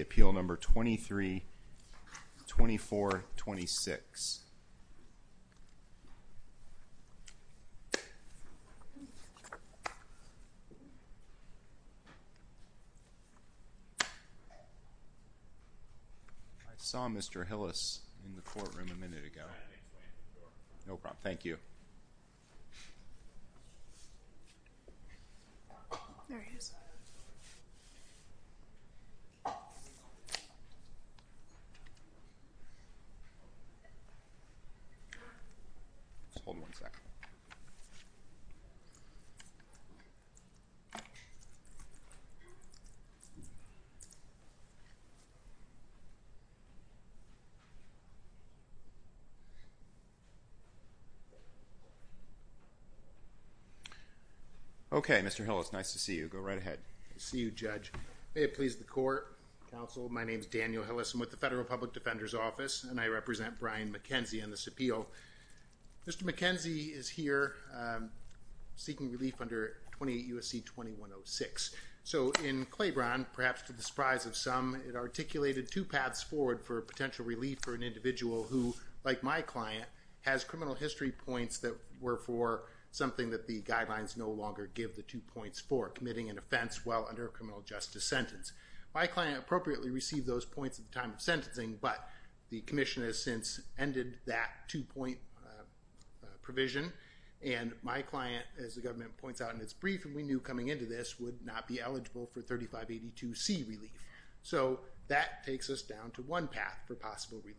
appeal number 23-24-26. I saw Mr. Hillis in the audience. In the courtroom a minute ago. No problem. Thank you. Okay, Mr. Hillis, nice to see you. Go right ahead. I see you, Judge. May it please the Court, Counsel, my name is Daniel Hillis. I'm with the Federal Public Defender's Office, and I represent Brian McKenzie on this appeal. Mr. McKenzie is here seeking relief under 28 U.S.C. 2106. So in Claiborne, perhaps to the surprise of some, it articulated two paths forward for potential relief for an individual who, like my client, has criminal history points that were for something that the guidelines no longer give the two points for, committing an offense while under a criminal justice sentence. My client appropriately received those points at the time of sentencing, but the commission has since ended that two-point provision, and my client, as the government points out in its brief, and we knew coming into this, would not be eligible for 3582C relief. So that takes us down to one path for possible relief.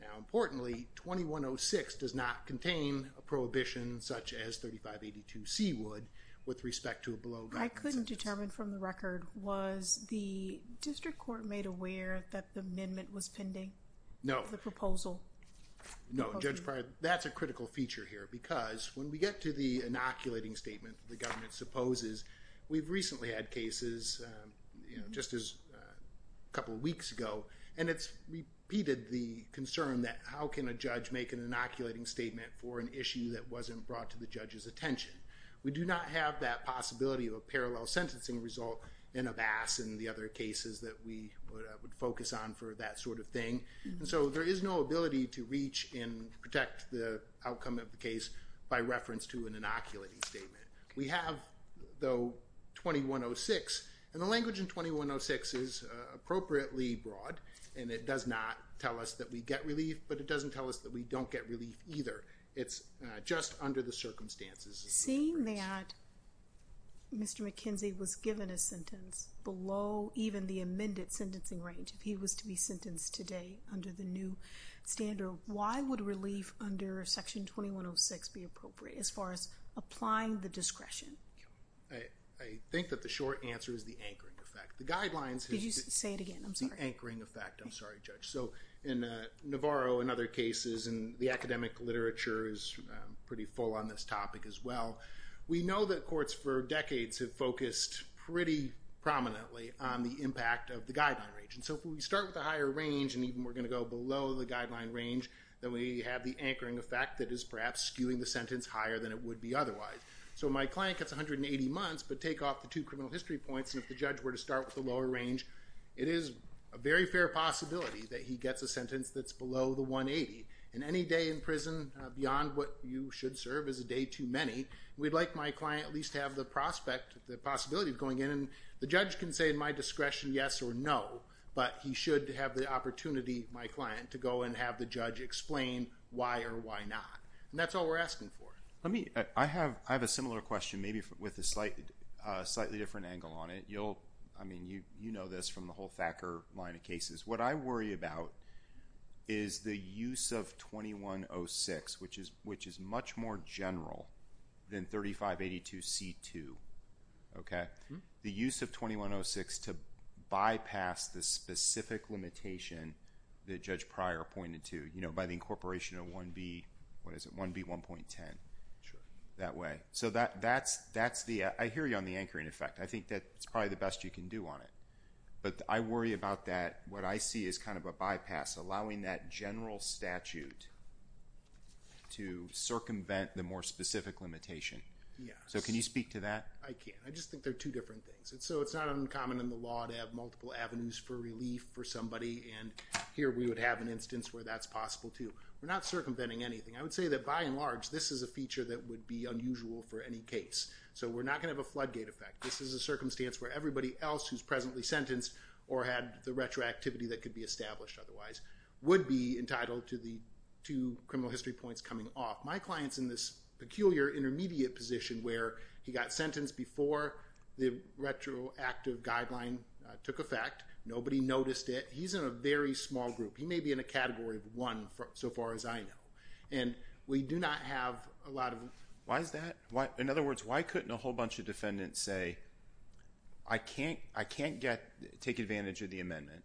Now, importantly, 2106 does not contain a prohibition such as 3582C would with respect to a below guidance. I couldn't determine from the record, was the district court made aware that the amendment was pending? No. No. Judge Pryor, that's a critical feature here, because when we get to the inoculating statement the government supposes, we've recently had cases, you know, just as a couple weeks ago, and it's repeated the concern that how can a judge make an inoculating statement for an issue that wasn't brought to the judge's attention. We do not have that possibility of a parallel sentencing result in a BAS and the other cases that we would focus on for that sort of thing. And so there is no ability to reach and protect the outcome of the case by reference to an inoculating statement. We have, though, 2106, and the language in 2106 is appropriately broad, and it does not tell us that we get relief, but it doesn't tell us that we don't get relief either. It's just under the circumstances. Seeing that Mr. McKenzie was given a sentence below even the amended sentencing range, if he was to be sentenced today under the new standard, why would relief under Section 2106 be appropriate as far as applying the discretion? I think that the short answer is the anchoring effect. The guidelines— Could you say it again? I'm sorry. The anchoring effect. I'm sorry, Judge. So in Navarro and other cases, and the academic literature is pretty full on this topic as well, we know that courts for decades have focused pretty prominently on the impact of the guideline range. And so if we start with a higher range and even we're going to go below the guideline range, then we have the anchoring effect that is perhaps skewing the sentence higher than it would be otherwise. So my client gets 180 months, but take off the two criminal history points, and if the judge were to start with the lower range, it is a very fair possibility that he gets a sentence that's below the 180. And any day in prison beyond what you should serve is a day too many. We'd like my client at least to have the prospect, the possibility of going in, and the judge can say in my discretion yes or no, but he should have the opportunity, my client, to go and have the judge explain why or why not. And that's all we're asking for. I have a similar question maybe with a slightly different angle on it. I mean, you know this from the whole Thacker line of cases. What I worry about is the use of 2106, which is much more general than 3582C2, okay? The use of 2106 to bypass the specific limitation that Judge Pryor pointed to, you know, by the incorporation of 1B, what is it, 1B1.10, that way. So that's the ‑‑ I hear you on the anchoring effect. I think that's probably the best you can do on it. But I worry about that. What I see is kind of a bypass, allowing that general statute to circumvent the more specific limitation. So can you speak to that? I can. I just think they're two different things. So it's not uncommon in the law to have multiple avenues for relief for somebody, and here we would have an instance where that's possible too. We're not circumventing anything. I would say that by and large, this is a feature that would be unusual for any case. So we're not going to have a floodgate effect. This is a circumstance where everybody else who's presently sentenced or had the retroactivity that could be established otherwise would be entitled to the two criminal history points coming off. My client's in this peculiar intermediate position where he got sentenced before the retroactive guideline took effect. Nobody noticed it. He's in a very small group. He may be in a category of one so far as I know. And we do not have a lot of them. Why is that? In other words, why couldn't a whole bunch of defendants say, I can't take advantage of the amendment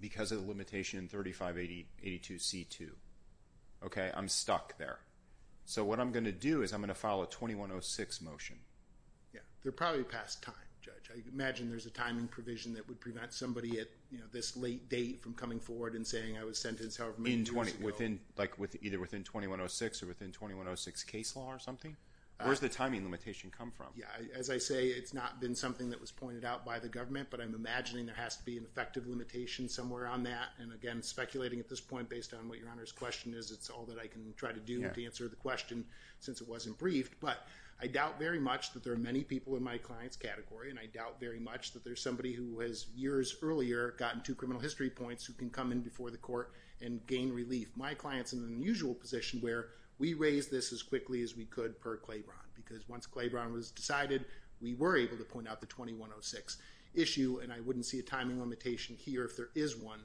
because of the limitation 3582C2? Okay, I'm stuck there. So what I'm going to do is I'm going to file a 2106 motion. They're probably past time, Judge. I imagine there's a timing provision that would prevent somebody at this late date from coming forward and saying I was sentenced however many years ago. Like either within 2106 or within 2106 case law or something? Where does the timing limitation come from? As I say, it's not been something that was pointed out by the government, but I'm imagining there has to be an effective limitation somewhere on that. And again, speculating at this point based on what Your Honor's question is, it's all that I can try to do to answer the question since it wasn't briefed. But I doubt very much that there are many people in my client's category, and I doubt very much that there's somebody who has years earlier gotten two criminal history points who can come in before the court and gain relief. My client's in an unusual position where we raise this as quickly as we could per Claiborne because once Claiborne was decided, we were able to point out the 2106 issue, and I wouldn't see a timing limitation here if there is one.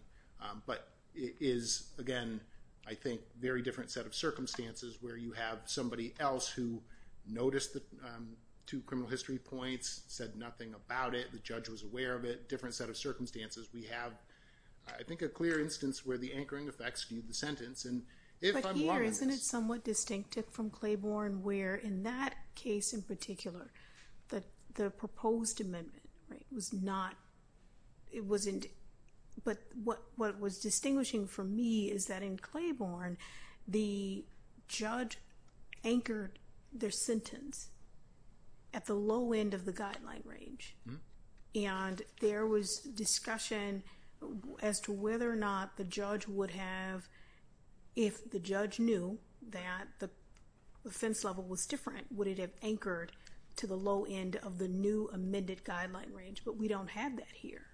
But it is, again, I think a very different set of circumstances where you have somebody else who noticed the two criminal history points, said nothing about it, the judge was aware of it, a different set of circumstances. We have, I think, a clear instance where the anchoring effect skewed the sentence, and if I'm wrong on this— But here, isn't it somewhat distinctive from Claiborne where, in that case in particular, the proposed amendment was not— it wasn't—but what was distinguishing for me is that in Claiborne, the judge anchored their sentence at the low end of the guideline range, and there was discussion as to whether or not the judge would have— if the judge knew that the offense level was different, would it have anchored to the low end of the new amended guideline range? But we don't have that here.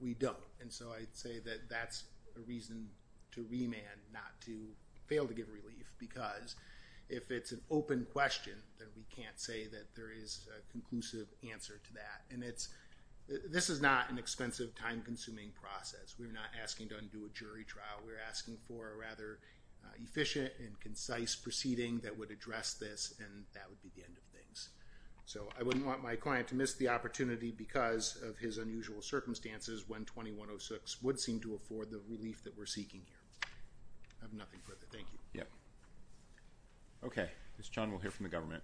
We don't, and so I'd say that that's a reason to remand, not to fail to give relief, because if it's an open question, then we can't say that there is a conclusive answer to that. And this is not an expensive, time-consuming process. We're not asking to undo a jury trial. We're asking for a rather efficient and concise proceeding that would address this, and that would be the end of things. So I wouldn't want my client to miss the opportunity because of his unusual circumstances when 2106 would seem to afford the relief that we're seeking here. I have nothing further. Thank you. Okay. Ms. Chung will hear from the government.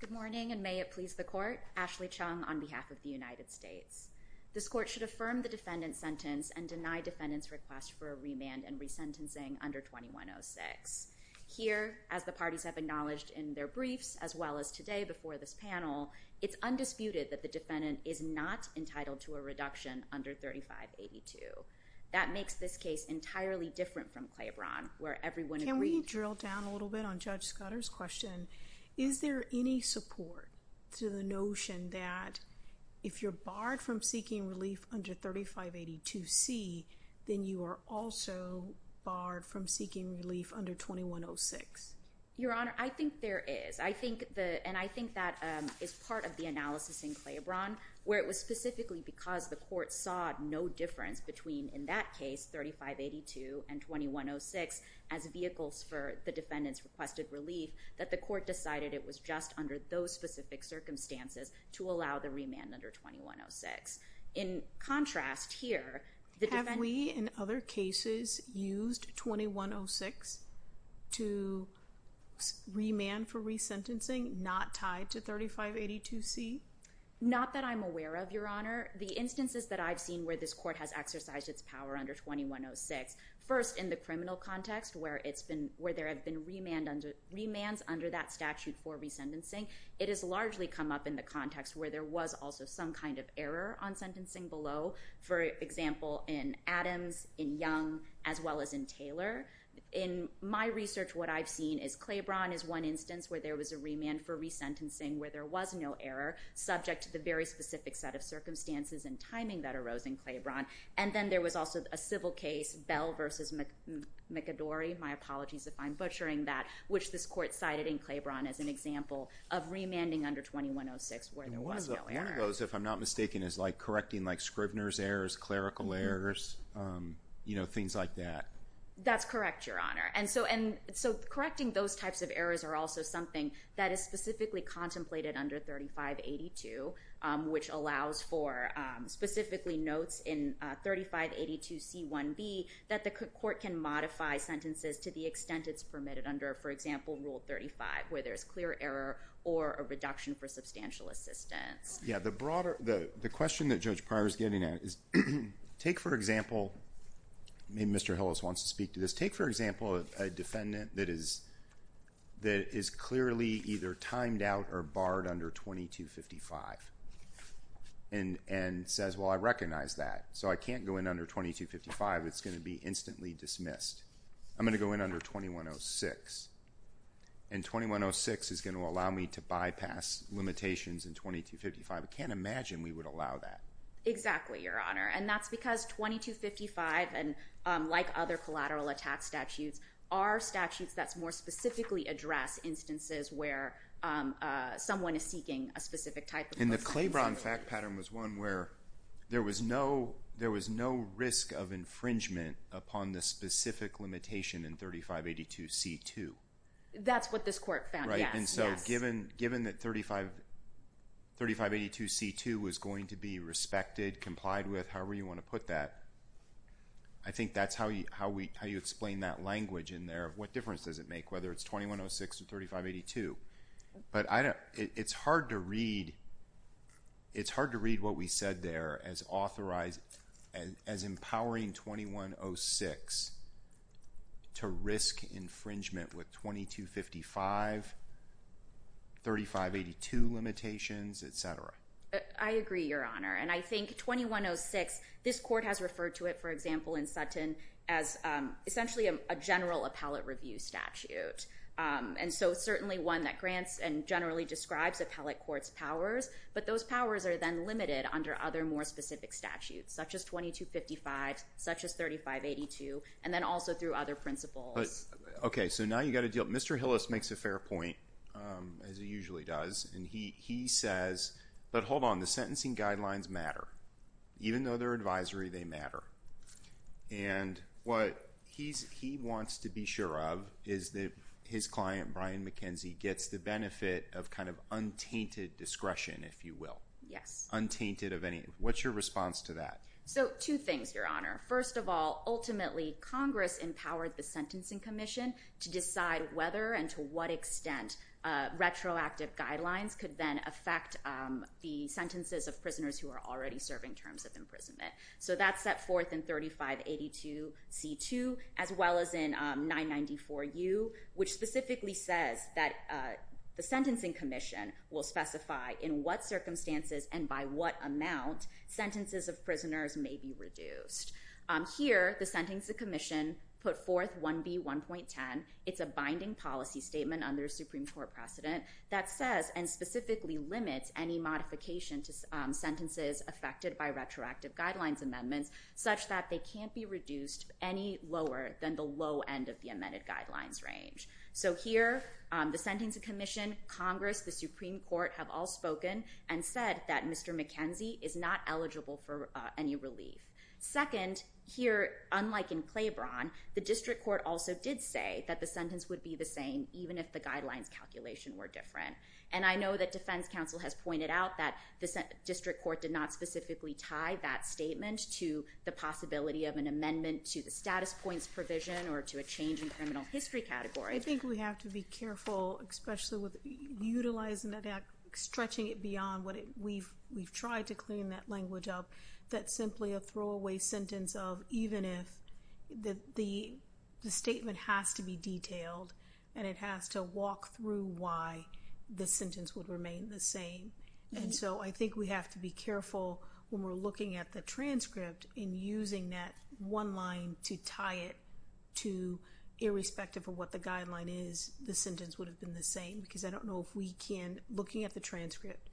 Good morning, and may it please the Court. Ashley Chung on behalf of the United States. This Court should affirm the defendant's sentence and deny defendant's request for a remand and resentencing under 2106. Here, as the parties have acknowledged in their briefs, as well as today before this panel, it's undisputed that the defendant is not entitled to a reduction under 3582. That makes this case entirely different from Claiborne, where everyone agrees. Can we drill down a little bit on Judge Scudder's question? Is there any support to the notion that if you're barred from seeking relief under 3582C, then you are also barred from seeking relief under 2106? Your Honor, I think there is. And I think that is part of the analysis in Claiborne, where it was specifically because the Court saw no difference between, in that case, 3582 and 2106 as vehicles for the defendant's requested relief, that the Court decided it was just under those specific circumstances to allow the remand under 2106. In contrast, here, the defendant... Have we, in other cases, used 2106 to remand for resentencing not tied to 3582C? Not that I'm aware of, Your Honor. The instances that I've seen where this Court has exercised its power under 2106, first in the criminal context, where there have been remands under that statute for resentencing, it has largely come up in the context where there was also some kind of error on sentencing below. For example, in Adams, in Young, as well as in Taylor. In my research, what I've seen is Claiborne is one instance where there was a remand for resentencing where there was no error, subject to the very specific set of circumstances and timing that arose in Claiborne. And then there was also a civil case, Bell v. McAdory, my apologies if I'm butchering that, which this Court cited in Claiborne as an example of remanding under 2106 where there was no error. One of those, if I'm not mistaken, is correcting Scrivener's errors, clerical errors, things like that. That's correct, Your Honor. And so correcting those types of errors are also something that is specifically contemplated under 3582, which allows for specifically notes in 3582C1B that the Court can modify sentences to the extent it's permitted under, for example, Rule 35, where there's clear error or a reduction for substantial assistance. Yeah, the question that Judge Pryor is getting at is take, for example, maybe Mr. Hillis wants to speak to this, take, for example, a defendant that is clearly either timed out or barred under 2255 and says, well, I recognize that, so I can't go in under 2255. It's going to be instantly dismissed. I'm going to go in under 2106. And 2106 is going to allow me to bypass limitations in 2255. I can't imagine we would allow that. Exactly, Your Honor. And that's because 2255, like other collateral attack statutes, are statutes that more specifically address instances where someone is seeking a specific type of assistance. And the Claiborne fact pattern was one where there was no risk of infringement upon the specific limitation in 3582C2. That's what this court found, yes. And so given that 3582C2 was going to be respected, complied with, however you want to put that, I think that's how you explain that language in there of what difference does it make, whether it's 2106 or 3582. But it's hard to read what we said there as empowering 2106 to risk infringement with 2255, 3582 limitations, et cetera. I agree, Your Honor. And I think 2106, this court has referred to it, for example, in Sutton as essentially a general appellate review statute, and so certainly one that grants and generally describes appellate courts' powers. But those powers are then limited under other more specific statutes, such as 2255, such as 3582, and then also through other principles. Okay, so now you've got to deal with it. Mr. Hillis makes a fair point, as he usually does, and he says, but hold on, the sentencing guidelines matter. Even though they're advisory, they matter. And what he wants to be sure of is that his client, Brian McKenzie, gets the benefit of kind of untainted discretion, if you will. Untainted of any. What's your response to that? So two things, Your Honor. First of all, ultimately, Congress empowered the Sentencing Commission to decide whether and to what extent retroactive guidelines could then affect the sentences of prisoners who are already serving terms of imprisonment. So that's set forth in 3582C2, as well as in 994U, which specifically says that the Sentencing Commission will specify in what circumstances and by what amount sentences of prisoners may be reduced. Here, the Sentencing Commission put forth 1B1.10. It's a binding policy statement under a Supreme Court precedent that says and specifically limits any modification to sentences affected by retroactive guidelines amendments, such that they can't be reduced any lower than the low end of the amended guidelines range. So here, the Sentencing Commission, Congress, the Supreme Court have all spoken and said that Mr. McKenzie is not eligible for any relief. Second, here, unlike in Claiborne, the District Court also did say that the sentence would be the same even if the guidelines calculation were different. And I know that Defense Counsel has pointed out that the District Court did not specifically tie that statement to the possibility of an amendment to the status points provision or to a change in criminal history category. I think we have to be careful, especially with utilizing that, stretching it beyond what we've tried to clean that language up, that simply a throwaway sentence of even if the statement has to be detailed and it has to walk through why the sentence would remain the same. And so I think we have to be careful when we're looking at the transcript in using that one line to tie it to irrespective of what the guideline is, the sentence would have been the same. Because I don't know if we can, looking at the transcript,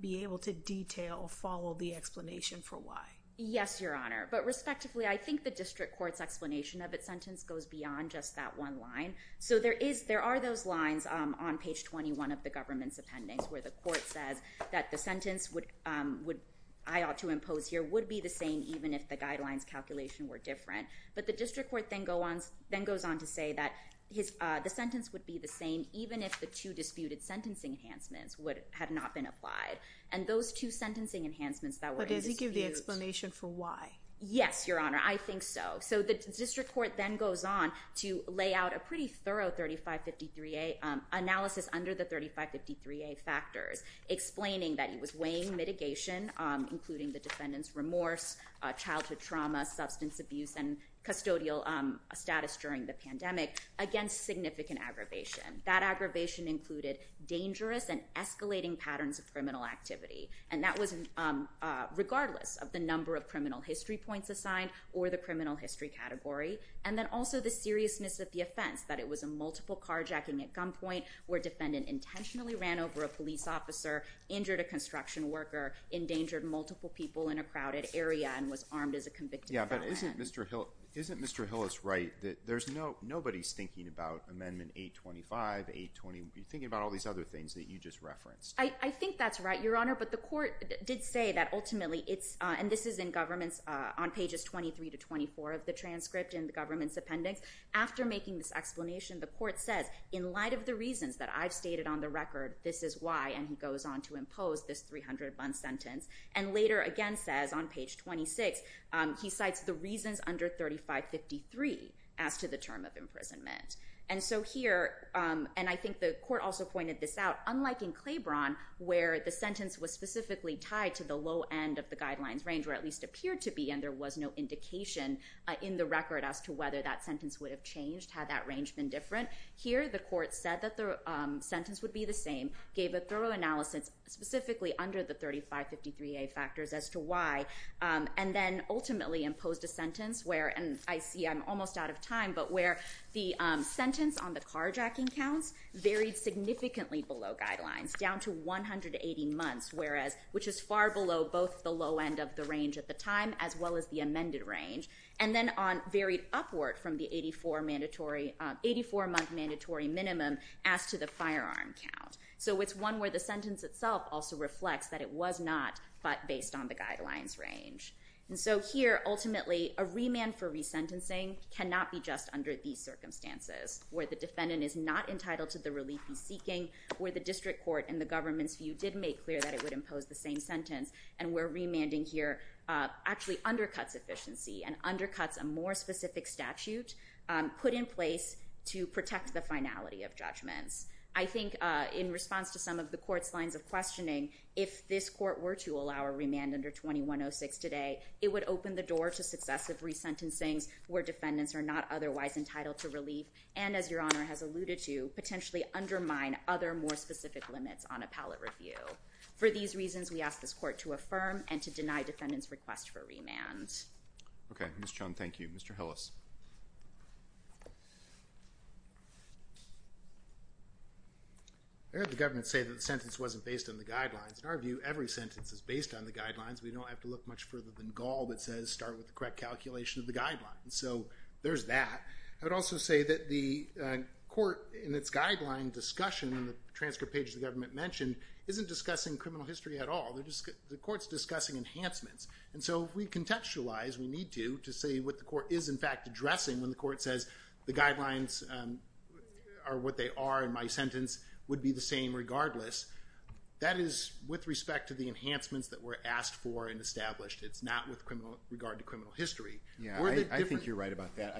be able to detail, follow the explanation for why. Yes, Your Honor. But respectively, I think the District Court's explanation of its sentence goes beyond just that one line. So there are those lines on page 21 of the government's appendix where the court says that the sentence I ought to impose here would be the same even if the guidelines calculation were different. But the District Court then goes on to say that the sentence would be the same even if the two disputed sentencing enhancements had not been applied. And those two sentencing enhancements that were in dispute— But does he give the explanation for why? Yes, Your Honor. I think so. So the District Court then goes on to lay out a pretty thorough 3553A analysis under the 3553A factors, explaining that it was weighing mitigation, including the defendant's remorse, childhood trauma, substance abuse, and custodial status during the pandemic, against significant aggravation. That aggravation included dangerous and escalating patterns of criminal activity. And that was regardless of the number of criminal history points assigned or the criminal history category. And then also the seriousness of the offense, that it was a multiple carjacking at gunpoint where a defendant intentionally ran over a police officer, injured a construction worker, endangered multiple people in a crowded area, and was armed as a convicted felon. Yeah, but isn't Mr. Hillis right that there's no— nobody's thinking about Amendment 825, 820. You're thinking about all these other things that you just referenced. I think that's right, Your Honor. But the court did say that ultimately it's— and this is in government's—on pages 23 to 24 of the transcript in the government's appendix. After making this explanation, the court says, in light of the reasons that I've stated on the record, this is why. And he goes on to impose this 300-month sentence and later again says on page 26, he cites the reasons under 3553 as to the term of imprisonment. And so here—and I think the court also pointed this out. Unlike in Claiborne, where the sentence was specifically tied to the low end of the guidelines range, or at least appeared to be, and there was no indication in the record as to whether that sentence would have changed, had that range been different, here the court said that the sentence would be the same, gave a thorough analysis specifically under the 3553a factors as to why, and then ultimately imposed a sentence where— and I see I'm almost out of time— but where the sentence on the carjacking counts varied significantly below guidelines, down to 180 months, whereas—which is far below both the low end of the range at the time as well as the amended range. And then varied upward from the 84-month mandatory minimum as to the firearm count. So it's one where the sentence itself also reflects that it was not, but based on the guidelines range. And so here, ultimately, a remand for resentencing cannot be just under these circumstances, where the defendant is not entitled to the relief he's seeking, where the district court and the government's view did make clear that it would impose the same sentence, and where remanding here actually undercuts efficiency and undercuts a more specific statute put in place to protect the finality of judgments. I think in response to some of the court's lines of questioning, if this court were to allow a remand under 2106 today, it would open the door to successive resentencings where defendants are not otherwise entitled to relief, and as Your Honor has alluded to, potentially undermine other more specific limits on appellate review. For these reasons, we ask this court to affirm and to deny defendants' request for remand. Okay. Ms. Chun, thank you. Mr. Hillis. I heard the government say that the sentence wasn't based on the guidelines. In our view, every sentence is based on the guidelines. We don't have to look much further than Gaul that says start with the correct calculation of the guidelines. So there's that. I would also say that the court in its guideline discussion in the transcript page the government mentioned isn't discussing criminal history at all. The court's discussing enhancements. And so we contextualize, we need to, to see what the court is in fact addressing when the court says the guidelines are what they are and my sentence would be the same regardless. That is with respect to the enhancements that were asked for and established. It's not with regard to criminal history. Yeah, I think you're right about that.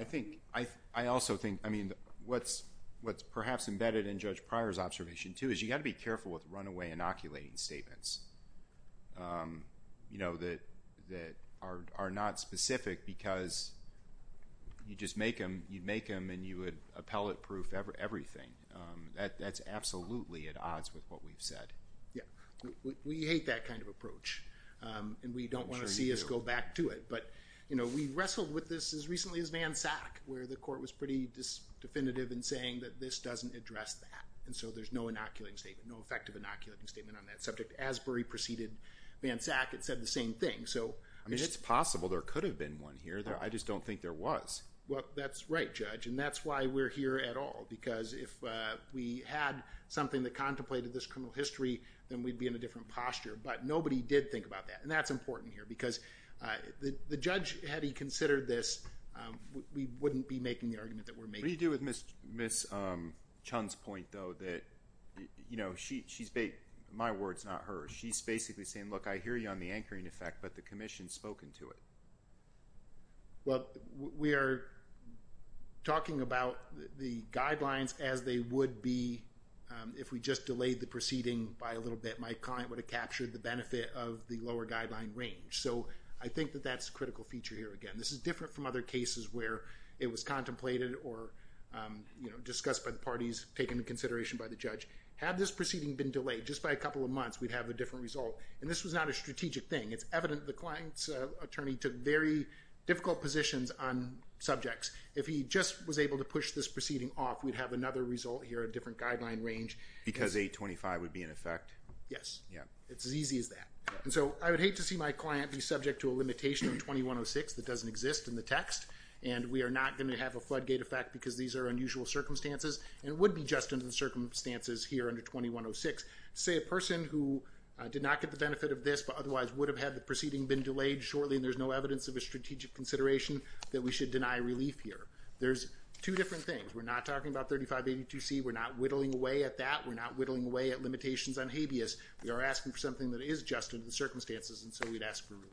I also think, I mean, what's perhaps embedded in Judge Pryor's observation, too, is you've got to be careful with runaway inoculating statements that are not specific because you'd make them and you would appellate proof everything. That's absolutely at odds with what we've said. Yeah, we hate that kind of approach. And we don't want to see us go back to it. But we wrestled with this as recently as Van Sack where the court was pretty definitive in saying that this doesn't address that. And so there's no inoculating statement, no effective inoculating statement on that subject. As Bury preceded Van Sack, it said the same thing. I mean, it's possible there could have been one here. I just don't think there was. Well, that's right, Judge, and that's why we're here at all because if we had something that contemplated this criminal history then we'd be in a different posture. But nobody did think about that, and that's important here because the judge, had he considered this, we wouldn't be making the argument that we're making. What do you do with Ms. Chun's point, though, that she's made my words, not hers. She's basically saying, look, I hear you on the anchoring effect, but the commission's spoken to it. Well, we are talking about the guidelines as they would be if we just delayed the proceeding by a little bit. My client would have captured the benefit of the lower guideline range. So I think that that's a critical feature here again. This is different from other cases where it was contemplated or discussed by the parties, taken into consideration by the judge. Had this proceeding been delayed just by a couple of months, we'd have a different result, and this was not a strategic thing. It's evident the client's attorney took very difficult positions on subjects. If he just was able to push this proceeding off, we'd have another result here, a different guideline range. Because 825 would be in effect? Yes. It's as easy as that. And so I would hate to see my client be subject to a limitation on 2106 that doesn't exist in the text, and we are not going to have a floodgate effect because these are unusual circumstances, and it would be just under the circumstances here under 2106. To say a person who did not get the benefit of this, but otherwise would have had the proceeding been delayed shortly and there's no evidence of a strategic consideration, that we should deny relief here. There's two different things. We're not talking about 3582C. We're not whittling away at that. We're not whittling away at limitations on habeas. We are asking for something that is just under the circumstances, and so we'd ask for relief.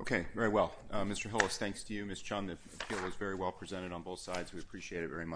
Okay. Very well. Mr. Hillis, thanks to you. Ms. Chun, the appeal is very well presented on both sides. We appreciate it very much.